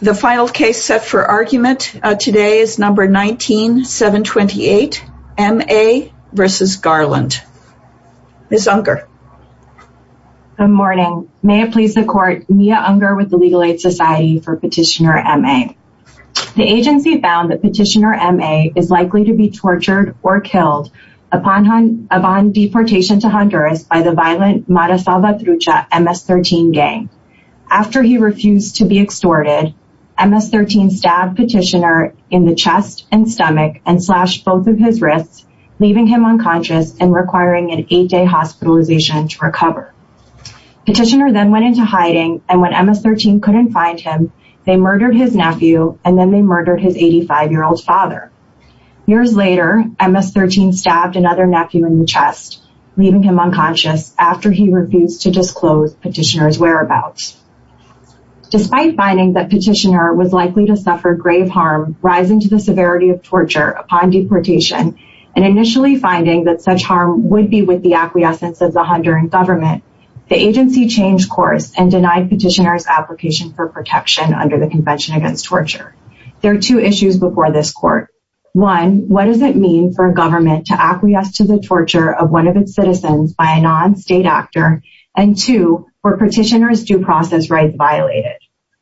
The final case set for argument today is No. 19-728, M.A. v. Garland. Ms. Unger. Good morning. May it please the Court, Mia Unger with the Legal Aid Society for Petitioner M.A. The agency found that Petitioner M.A. is likely to be tortured or killed upon deportation to Honduras by the violent Mara Salvatrucha MS-13 gang. After he refused to be extorted, MS-13 stabbed Petitioner in the chest and stomach and slashed both of his wrists, leaving him unconscious and requiring an eight-day hospitalization to recover. Petitioner then went into hiding, and when MS-13 couldn't find him, they murdered his nephew and then they murdered his 85-year-old father. Years later, MS-13 stabbed another nephew in the chest, leaving him unconscious after he refused to disclose Petitioner's whereabouts. Despite finding that Petitioner was likely to suffer grave harm rising to the severity of torture upon deportation and initially finding that such harm would be with the acquiescence of the Honduran government, the agency changed course and denied Petitioner's application for protection under the Convention Against Torture. There are two issues before this Court. One, what does it mean for a government to acquiesce to the torture of one of its citizens by a non-state actor? And two, were Petitioner's due process rights violated?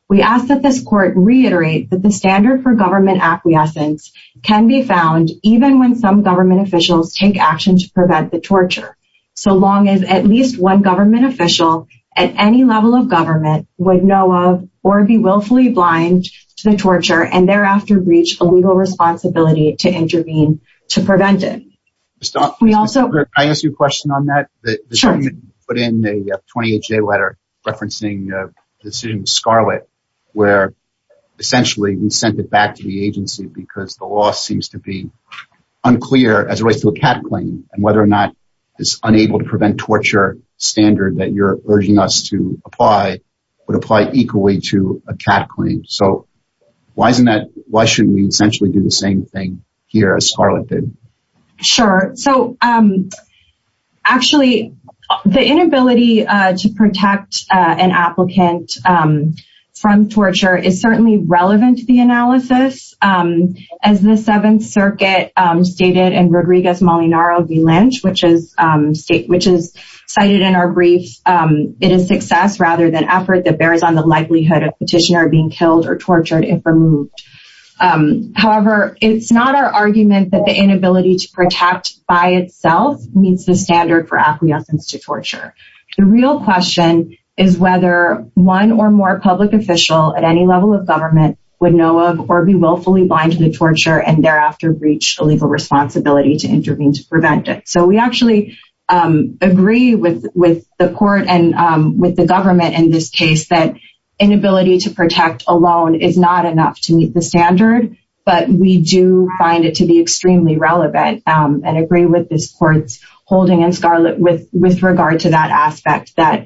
We ask that this Court reiterate that the standard for government acquiescence can be found even when some government officials take action to prevent the torture, so long as at least one government official at any level of government would know of or be willfully blind to the torture and thereafter reach a legal responsibility to intervene to prevent it. Can I ask you a question on that? Sure. You put in a 28-day letter referencing the decision with Scarlett where essentially you sent it back to the agency because the law seems to be unclear as it relates to a cat claim and whether or not this unable-to-prevent-torture standard that you're urging us to apply would apply equally to a cat claim. So, why shouldn't we essentially do the same thing here as Scarlett did? Sure. So, actually, the inability to protect an applicant from torture is certainly relevant to the analysis. As the Seventh Circuit stated in Rodriguez-Molinaro v. Lynch, which is cited in our brief, it is success rather than effort that bears on the likelihood of Petitioner being killed or tortured if removed. However, it's not our argument that the inability to protect by itself meets the standard for acquiescence to torture. The real question is whether one or more public official at any level of government would know of or be willfully blind to the torture and thereafter reach a legal responsibility to intervene to prevent it. So, we actually agree with the court and with the government in this case that inability to protect alone is not enough to meet the standard, but we do find it to be extremely relevant and agree with this court's holding in Scarlett with regard to that aspect, that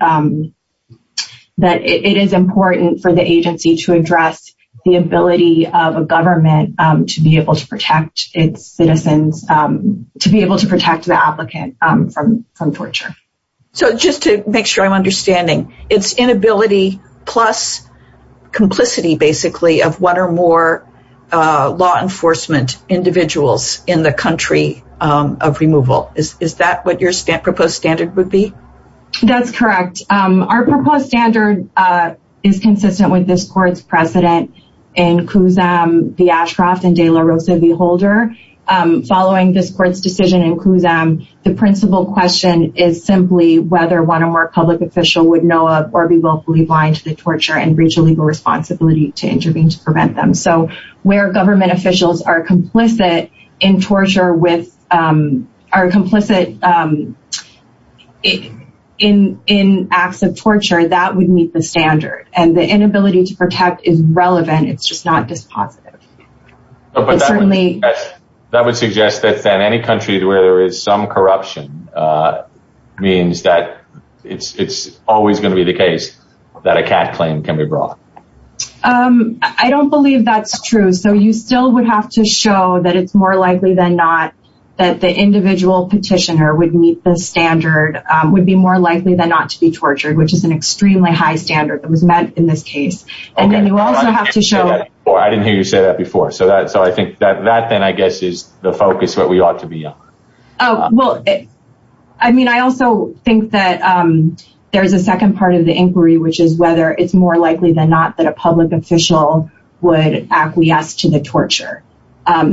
it is important for the agency to address the ability of a government to be able to protect its citizens, to be able to protect the applicant from torture. So, just to make sure I'm understanding, it's inability plus complicity, basically, of one or more law enforcement individuals in the country of removal. Is that what your proposed standard would be? That's correct. Our proposed standard is consistent with this court's precedent in Kuzam v. Ashcroft and De La Rosa v. Holder. Following this court's decision in Kuzam, the principal question is simply whether one or more public official would know of or be willfully blind to the torture and reach a legal responsibility to intervene to prevent them. Where government officials are complicit in acts of torture, that would meet the standard. And the inability to protect is relevant, it's just not dispositive. That would suggest that in any country where there is some corruption, it means that it's always going to be the case that a CAT claim can be brought. I don't believe that's true. So, you still would have to show that it's more likely than not that the individual petitioner would meet the standard, would be more likely than not to be tortured, which is an extremely high standard that was met in this case. I didn't hear you say that before. So, I think that then, I guess, is the focus that we ought to be on. I also think that there's a second part of the inquiry, which is whether it's more likely than not that a public official would acquiesce to the torture.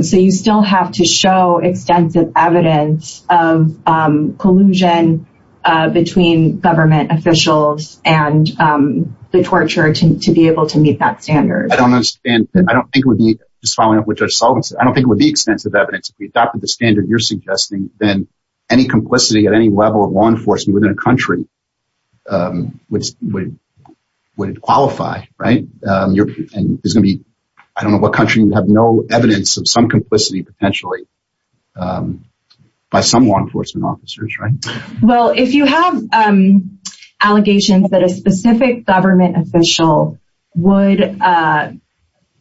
So, you still have to show extensive evidence of collusion between government officials and the torture to be able to meet that standard. I don't understand. I don't think it would be, just following up with Judge Sullivan, I don't think it would be extensive evidence. If we adopted the standard you're suggesting, then any complicity at any level of law enforcement within a country would qualify, right? I don't know what country would have no evidence of some complicity, potentially, by some law enforcement officers, right? Well, if you have allegations that a specific government official would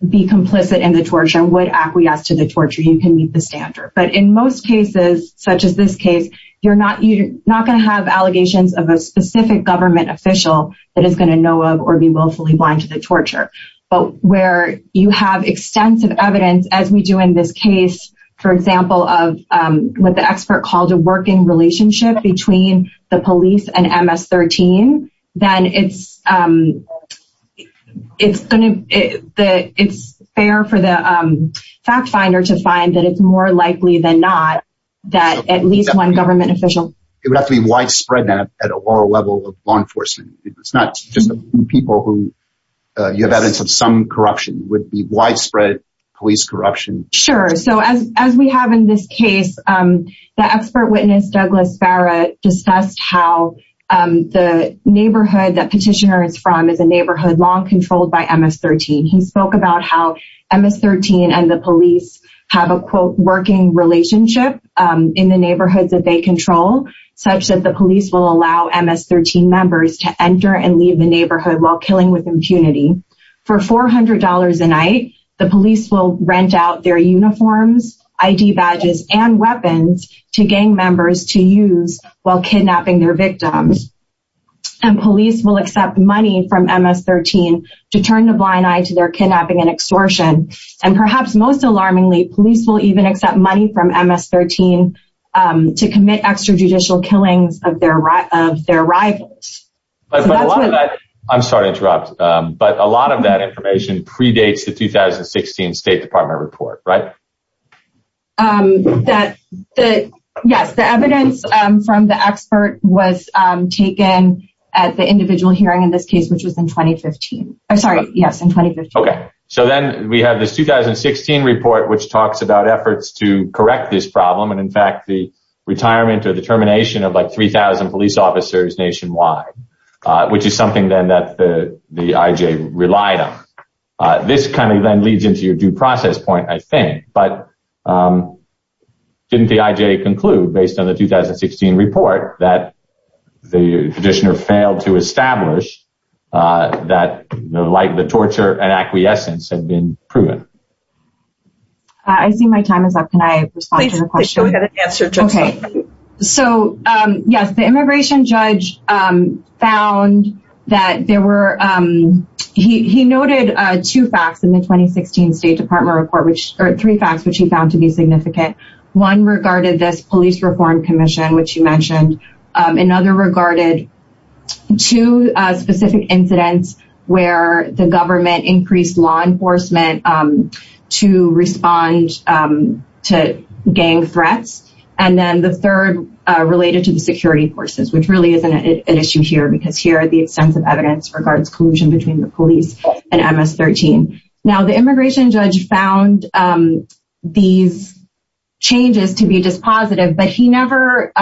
be complicit in the torture, would acquiesce to the torture, you can meet the standard. But in most cases, such as this case, you're not going to have allegations of a specific government official that is going to know of or be willfully blind to the torture. But where you have extensive evidence, as we do in this case, for example, of what the expert called a working relationship between the police and MS-13, then it's fair for the fact finder to find that it's more likely than not that at least one government official... It would have to be widespread at a lower level of law enforcement. It's not just people who have evidence of some corruption. It would be widespread police corruption. Sure. So, as we have in this case, the expert witness, Douglas Barrett, discussed how the neighborhood that Petitioner is from is a neighborhood long controlled by MS-13. He spoke about how MS-13 and the police have a, quote, working relationship in the neighborhoods that they control, such that the police will allow MS-13 members to enter and leave the neighborhood while killing with impunity. For $400 a night, the police will rent out their uniforms, ID badges, and weapons to gang members to use while kidnapping their victims. And police will accept money from MS-13 to turn a blind eye to their kidnapping and extortion. And perhaps most alarmingly, police will even accept money from MS-13 to commit extrajudicial killings of their rivals. But a lot of that... I'm sorry to interrupt. But a lot of that information predates the 2016 State Department report, right? Yes. The evidence from the expert was taken at the individual hearing in this case, which was in 2015. I'm sorry. Yes, in 2015. Okay. So then we have this 2016 report, which talks about efforts to correct this problem. And in fact, the retirement or the termination of like 3,000 police officers nationwide, which is something then that the IJ relied on. This kind of then leads into your due process point, I think. But didn't the IJ conclude, based on the 2016 report, that the petitioner failed to establish that the torture and acquiescence had been proven? I see my time is up. Can I respond to the question? Please go ahead and answer, Jessica. Okay. So yes, the immigration judge found that there were... There were two facts in the 2016 State Department report, or three facts, which he found to be significant. One regarded this police reform commission, which you mentioned. Another regarded two specific incidents where the government increased law enforcement to respond to gang threats. And then the third related to the security forces, which really isn't an issue here because here the extensive evidence regards collusion between the police and MS-13. Now, the immigration judge found these changes to be dispositive, but he never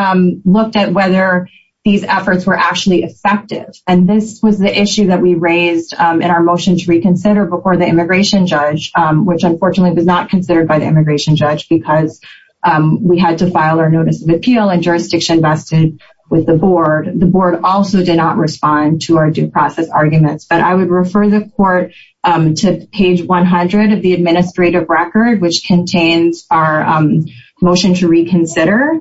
looked at whether these efforts were actually effective. And this was the issue that we raised in our motion to reconsider before the immigration judge, which unfortunately was not considered by the immigration judge because we had to file our notice of appeal and jurisdiction vested with the board. The board also did not respond to our due process arguments. But I would refer the court to page 100 of the administrative record, which contains our motion to reconsider,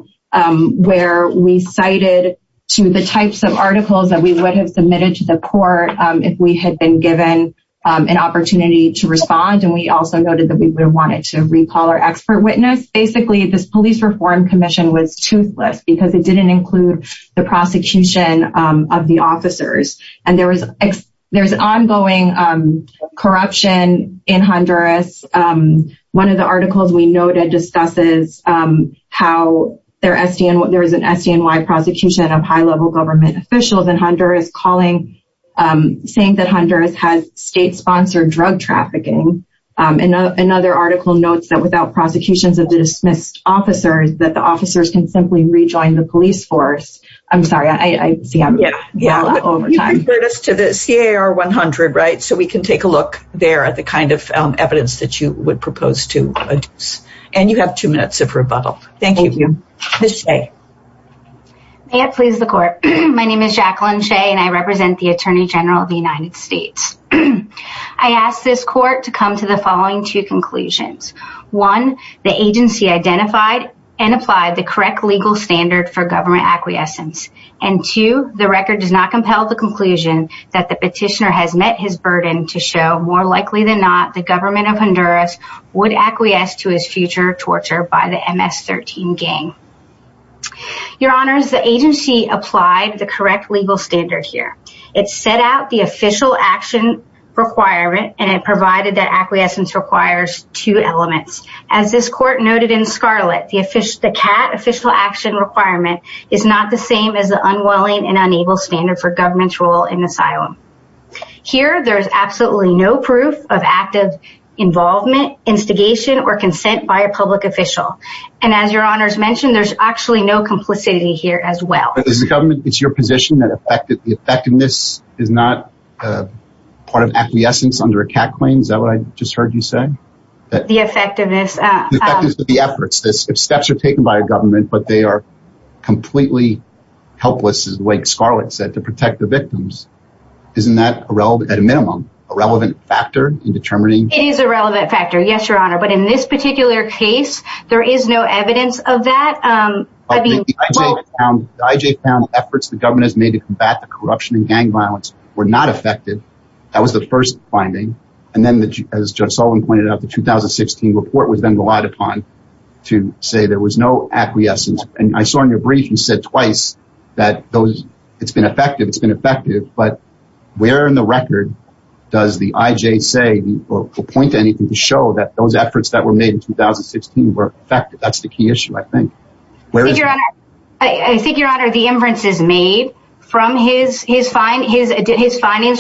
where we cited to the types of articles that we would have submitted to the court if we had been given an opportunity to respond. And we also noted that we wanted to recall our expert witness. Basically, this police reform commission was toothless because it didn't include the prosecution of the officers. And there's ongoing corruption in Honduras. One of the articles we noted discusses how there is an SDNY prosecution of high-level government officials in Honduras, saying that Honduras has state-sponsored drug trafficking. Another article notes that without prosecutions of the dismissed officers, that the officers can simply rejoin the police force. I'm sorry, I see I'm running out of time. You referred us to the CAR 100, right? So we can take a look there at the kind of evidence that you would propose to adduce. And you have two minutes of rebuttal. Thank you. Ms. Shea. May it please the court. My name is Jacqueline Shea, and I represent the Attorney General of the United States. I ask this court to come to the following two conclusions. One, the agency identified and applied the correct legal standard for government acquiescence. And two, the record does not compel the conclusion that the petitioner has met his burden to show more likely than not the government of Honduras would acquiesce to his future torture by the MS-13 gang. Your Honors, the agency applied the correct legal standard here. It set out the official action requirement, and it provided that acquiescence requires two elements. As this court noted in Scarlett, the CAT official action requirement is not the same as the unwilling and unable standard for government's role in asylum. Here, there is absolutely no proof of active involvement, instigation, or consent by a public official. And as your Honors mentioned, there's actually no complicity here as well. As the government, it's your position that the effectiveness is not part of acquiescence under a CAT claim? Is that what I just heard you say? The effectiveness. The effectiveness of the efforts. If steps are taken by a government, but they are completely helpless, as Scarlett said, to protect the victims, isn't that at a minimum a relevant factor in determining? It is a relevant factor, yes, Your Honor. But in this particular case, there is no evidence of that. The IJ found efforts the government has made to combat the corruption and gang violence were not effective. That was the first finding. And then, as Judge Sullivan pointed out, the 2016 report was then relied upon to say there was no acquiescence. And I saw in your brief, you said twice that it's been effective, it's been effective. But where in the record does the IJ say or point to anything to show that those efforts that were made in 2016 were effective? That's the key issue, I think. I think, Your Honor, the inference is made from his findings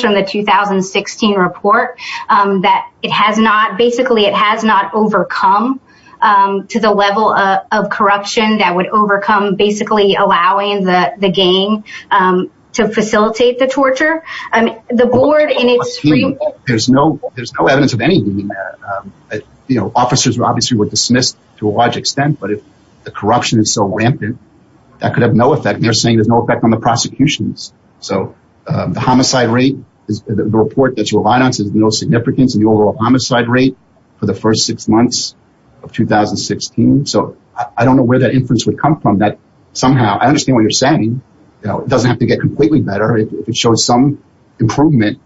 from the 2016 report that it has not, basically, it has not overcome to the level of corruption that would overcome basically allowing the gang to facilitate the torture. There's no evidence of anything in there. Officers, obviously, were dismissed to a large extent. But if the corruption is so rampant, that could have no effect. They're saying there's no effect on the prosecutions. So the homicide rate, the report that you relied on, says no significance in the overall homicide rate for the first six months of 2016. So I don't know where that inference would come from. Somehow, I understand what you're saying. It doesn't have to get completely better. If it shows some improvement,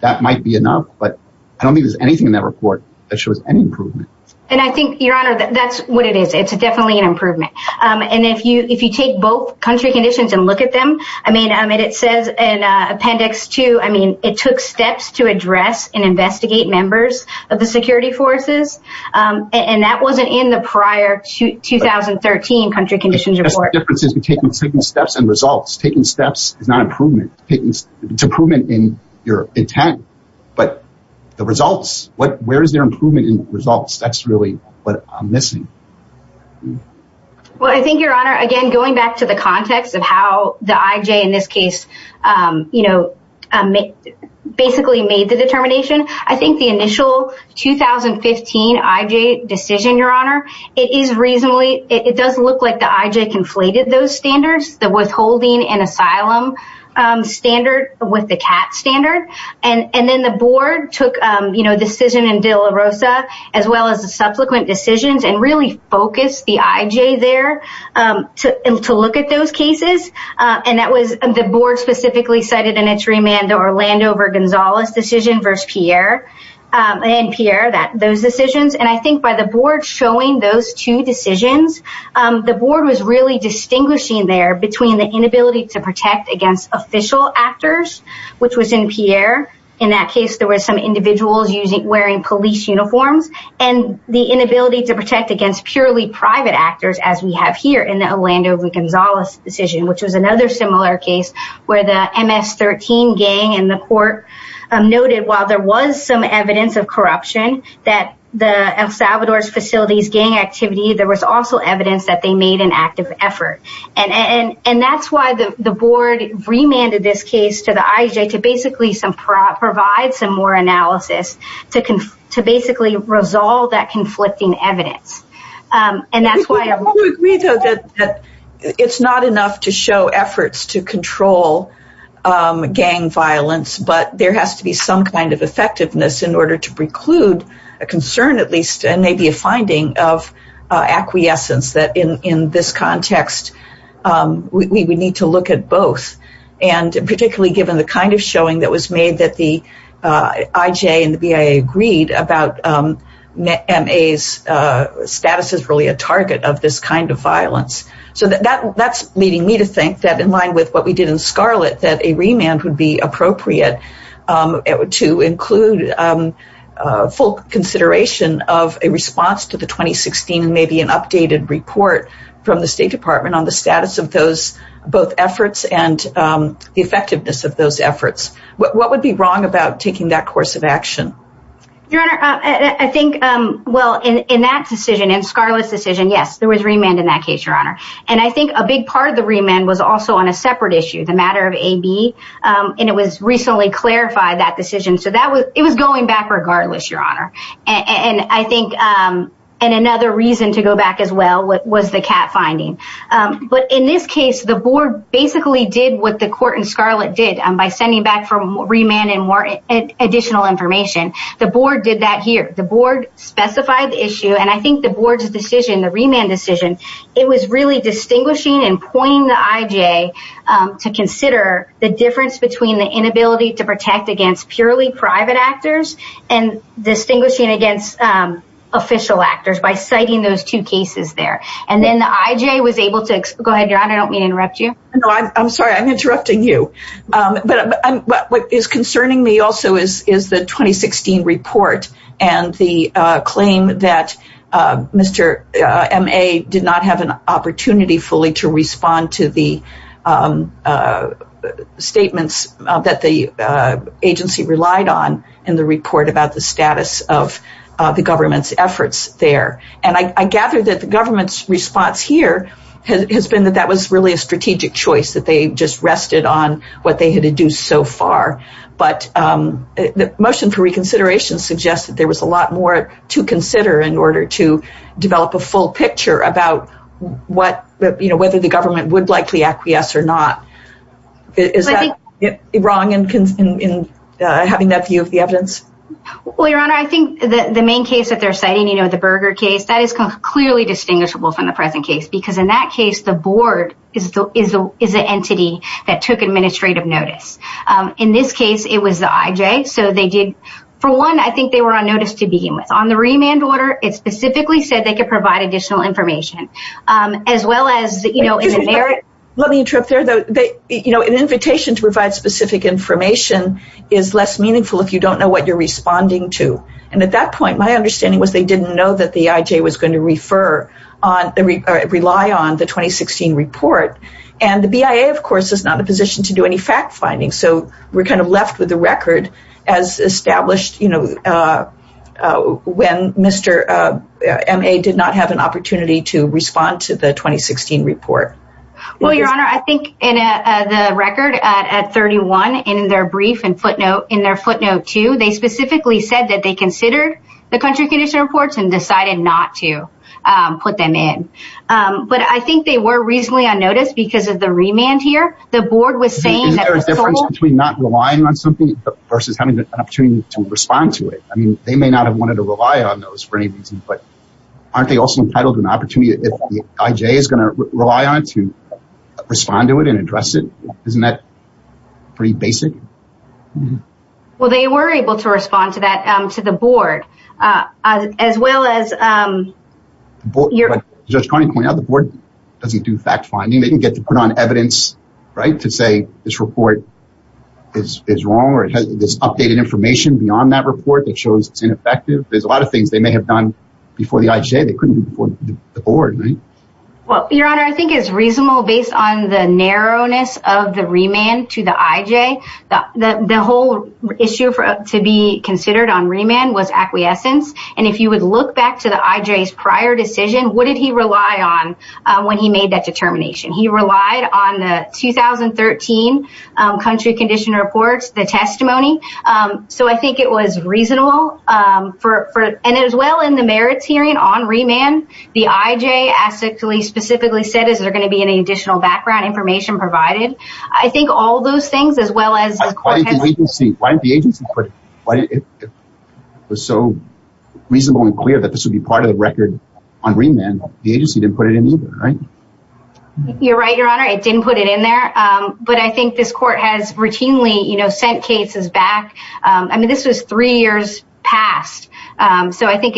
that might be enough. But I don't think there's anything in that report that shows any improvement. And I think, Your Honor, that's what it is. It's definitely an improvement. And if you take both country conditions and look at them, I mean, it says in Appendix 2, I mean, it took steps to address and investigate members of the security forces. And that wasn't in the prior 2013 country conditions report. Taking steps is not improvement. It's improvement in your intent. But the results, where is there improvement in results? That's really what I'm missing. Well, I think, Your Honor, again, going back to the context of how the IJ in this case, you know, basically made the determination, I think the initial 2015 IJ decision, Your Honor, it does look like the IJ conflated those standards, the withholding and asylum standard with the CAT standard. And then the board took, you know, the decision in De La Rosa, as well as the subsequent decisions, and really focused the IJ there to look at those cases. And that was the board specifically cited in its remand, the Orlando Vergonzales decision versus Pierre and Pierre, those decisions. And I think by the board showing those two decisions, the board was really distinguishing there between the inability to protect against official actors, which was in Pierre. In that case, there were some individuals wearing police uniforms, and the inability to protect against purely private actors, as we have here in the Orlando Vergonzales decision, which was another similar case where the MS-13 gang in the court noted, while there was some evidence of corruption that the El Salvador's facilities gang activity, there was also evidence that they made an active effort. And that's why the board remanded this case to the IJ to basically provide some more analysis, to basically resolve that conflicting evidence. And that's why... I do agree, though, that it's not enough to show efforts to control gang violence, but there has to be some kind of effectiveness in order to preclude a concern, at least, and maybe a finding of acquiescence that in this context, we would need to look at both. And particularly given the kind of showing that was made that the IJ and the BIA agreed about MA's status as really a target of this kind of violence. So that's leading me to think that in line with what we did in Scarlet, that a remand would be appropriate to include full consideration of a response to the 2016, maybe an updated report from the State Department on the status of both efforts and the effectiveness of those efforts. What would be wrong about taking that course of action? Your Honor, I think... Well, in that decision, in Scarlet's decision, yes, there was remand in that case, Your Honor. And I think a big part of the remand was also on a separate issue, the matter of AB. And it was recently clarified, that decision. So it was going back regardless, Your Honor. And I think another reason to go back as well was the cat finding. But in this case, the board basically did what the court in Scarlet did by sending back for remand and additional information. The board did that here. The board specified the issue, and I think the board's decision, the remand decision, it was really distinguishing and pointing the IJ to consider the difference between the inability to protect against purely private actors and distinguishing against official actors by citing those two cases there. And then the IJ was able to... Go ahead, Your Honor. I don't mean to interrupt you. No, I'm sorry. I'm interrupting you. But what is concerning me also is the 2016 report and the claim that Mr. M.A. did not have an opportunity fully to respond to the statements that the agency relied on in the report about the status of the government's efforts there. And I gather that the government's response here has been that that was really a strategic choice, that they just rested on what they had to do so far. But the motion for reconsideration suggested there was a lot more to consider in order to develop a full picture about whether the government would likely acquiesce or not. Is that wrong in having that view of the evidence? Well, Your Honor, I think the main case that they're citing, you know, the Berger case, that is clearly distinguishable from the present case, because in that case, the board is the entity that took administrative notice. In this case, it was the IJ. So they did... For one, I think they were on notice to begin with. On the remand order, it specifically said they could provide additional information, as well as, you know, in the merit... Let me interrupt there, though. You know, an invitation to provide specific information is less meaningful if you don't know what you're responding to. And at that point, my understanding was they didn't know that the IJ was going to refer or rely on the 2016 report. And the BIA, of course, is not in a position to do any fact-finding. So we're kind of left with the record as established, you know, when Mr. M.A. did not have an opportunity to respond to the 2016 report. Well, Your Honor, I think in the record at 31, in their brief and footnote, in their footnote 2, they specifically said that they considered the country condition reports and decided not to put them in. But I think they were reasonably on notice because of the remand here. The board was saying that... Isn't there a difference between not relying on something versus having an opportunity to respond to it? I mean, they may not have wanted to rely on those for any reason. But aren't they also entitled to an opportunity if the IJ is going to rely on it to respond to it and address it? Isn't that pretty basic? Well, they were able to respond to that, to the board, as well as... Judge Carney pointed out the board doesn't do fact-finding. They didn't get to put on evidence, right, to say this report is wrong or it has this updated information beyond that report that shows it's ineffective. There's a lot of things they may have done before the IJ they couldn't do before the board, right? Well, Your Honor, I think it's reasonable based on the narrowness of the remand to the IJ. The whole issue to be considered on remand was acquiescence. And if you would look back to the IJ's prior decision, what did he rely on when he made that determination? He relied on the 2013 Country Condition Reports, the testimony. So I think it was reasonable. And as well in the merits hearing on remand, the IJ specifically said, is there going to be any additional background information provided? I think all those things, as well as... Why didn't the agency put it? It was so reasonable and clear that this would be part of the record on remand. The agency didn't put it in either, right? You're right, Your Honor. It didn't put it in there. But I think this court has routinely, you know, sent cases back. I mean, this was three years past. So I think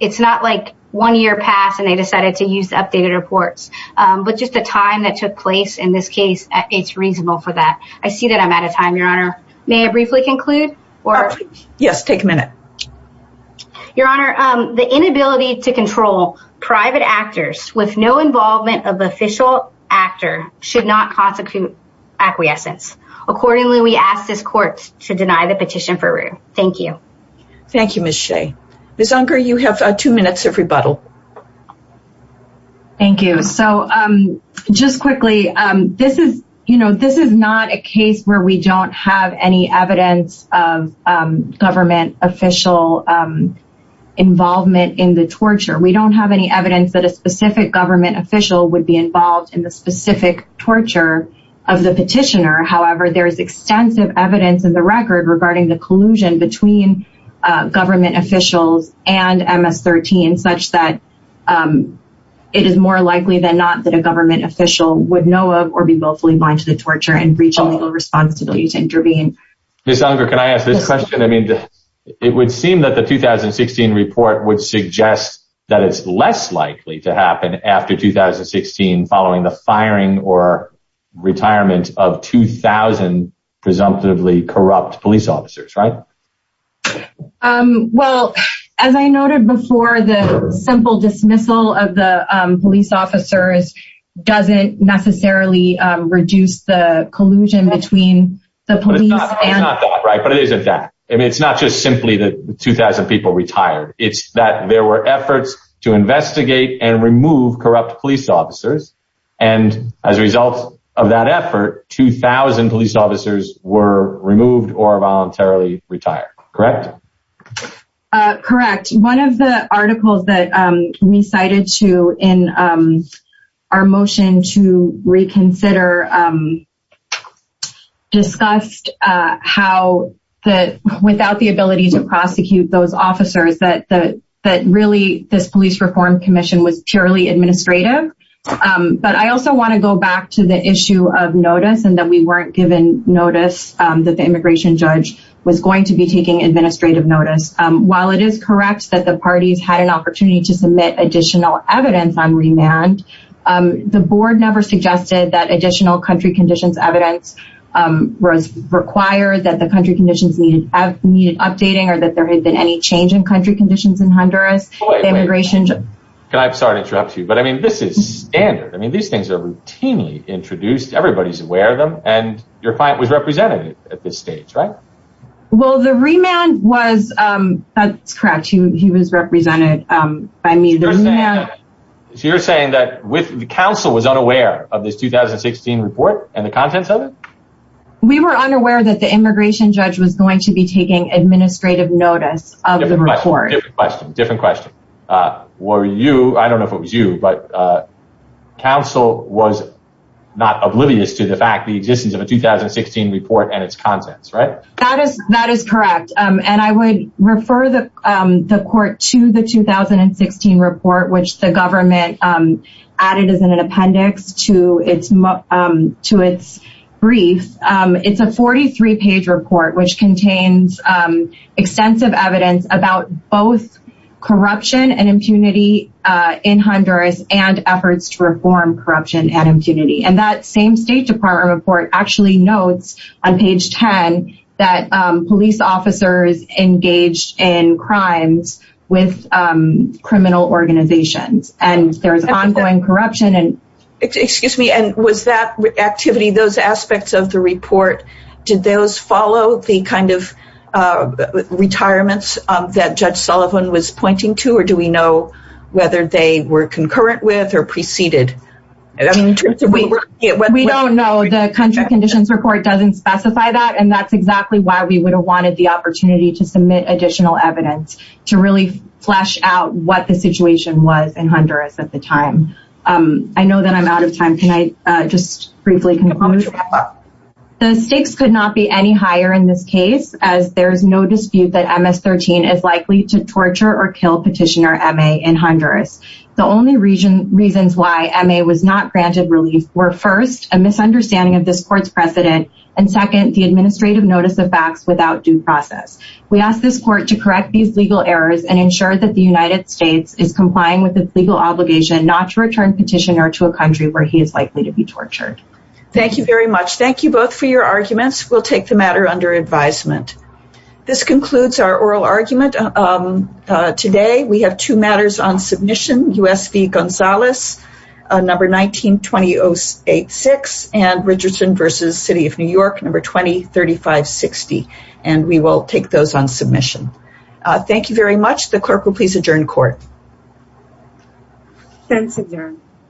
it's not like one year passed and they decided to use the updated reports. But just the time that took place in this case, it's reasonable for that. I see that I'm out of time, Your Honor. May I briefly conclude? Yes, take a minute. Your Honor, the inability to control private actors with no involvement of official actor should not constitute acquiescence. Accordingly, we ask this court to deny the petition for review. Thank you. Thank you, Ms. Shea. Ms. Unger, you have two minutes of rebuttal. Thank you. So just quickly, this is not a case where we don't have any evidence of government official involvement in the torture. We don't have any evidence that a specific government official would be involved in the specific torture of the petitioner. However, there is extensive evidence in the record regarding the collusion between government officials and MS-13 such that it is more likely than not that a government official would know of or be willfully blind to the torture and reach a legal responsibility to intervene. Ms. Unger, can I ask this question? I mean, it would seem that the 2016 report would suggest that it's less likely to happen after 2016 following the firing or retirement of 2,000 presumptively corrupt police officers, right? Well, as I noted before, the simple dismissal of the police officers doesn't necessarily reduce the collusion between the police and... But it's not that, right? But it isn't that. I mean, it's not just simply that 2,000 people retired. It's that there were efforts to investigate and remove corrupt police officers. And as a result of that effort, 2,000 police officers were removed or voluntarily retired, correct? Correct. One of the articles that we cited in our motion to reconsider discussed how, without the ability to prosecute those officers, that really this police reform commission was purely administrative. But I also want to go back to the issue of notice and that we weren't given notice that the immigration judge was going to be taking administrative notice. While it is correct that the parties had an opportunity to submit additional evidence on remand, the board never suggested that additional country conditions evidence was required, that the country conditions needed updating, or that there had been any change in country conditions in Honduras. Wait, wait. The immigration judge... I'm sorry to interrupt you, but I mean, this is standard. I mean, these things are routinely introduced. Everybody's aware of them. And your client was representative at this stage, right? Well, the remand was... That's correct. He was represented by me. So you're saying that the council was unaware of this 2016 report and the contents of it? We were unaware that the immigration judge was going to be taking administrative notice of the report. Different question. Were you... I don't know if it was you, but council was not oblivious to the fact the existence of a 2016 report and its contents, right? That is correct. And I would refer the court to the 2016 report, which the government added as an appendix to its brief. It's a 43-page report, which contains extensive evidence about both corruption and impunity in Honduras and efforts to reform corruption and impunity. And that same State Department report actually notes on page 10 that police officers engaged in crimes with criminal organizations. And there's ongoing corruption and... Did those follow the kind of retirements that Judge Sullivan was pointing to? Or do we know whether they were concurrent with or preceded? We don't know. The country conditions report doesn't specify that. And that's exactly why we would have wanted the opportunity to submit additional evidence to really flesh out what the situation was in Honduras at the time. I know that I'm out of time. The stakes could not be any higher in this case, as there is no dispute that MS-13 is likely to torture or kill Petitioner M.A. in Honduras. The only reasons why M.A. was not granted relief were first, a misunderstanding of this court's precedent, and second, the administrative notice of facts without due process. We ask this court to correct these legal errors and ensure that the United States is complying with its legal obligation not to return Petitioner to a country where he is likely to be tortured. Thank you very much. Thank you both for your arguments. We'll take the matter under advisement. This concludes our oral argument today. We have two matters on submission, U.S. v. Gonzales, number 192086, and Richardson v. City of New York, number 203560. We will take those on submission. Thank you very much. The clerk will please adjourn court. Thanks, adjourn.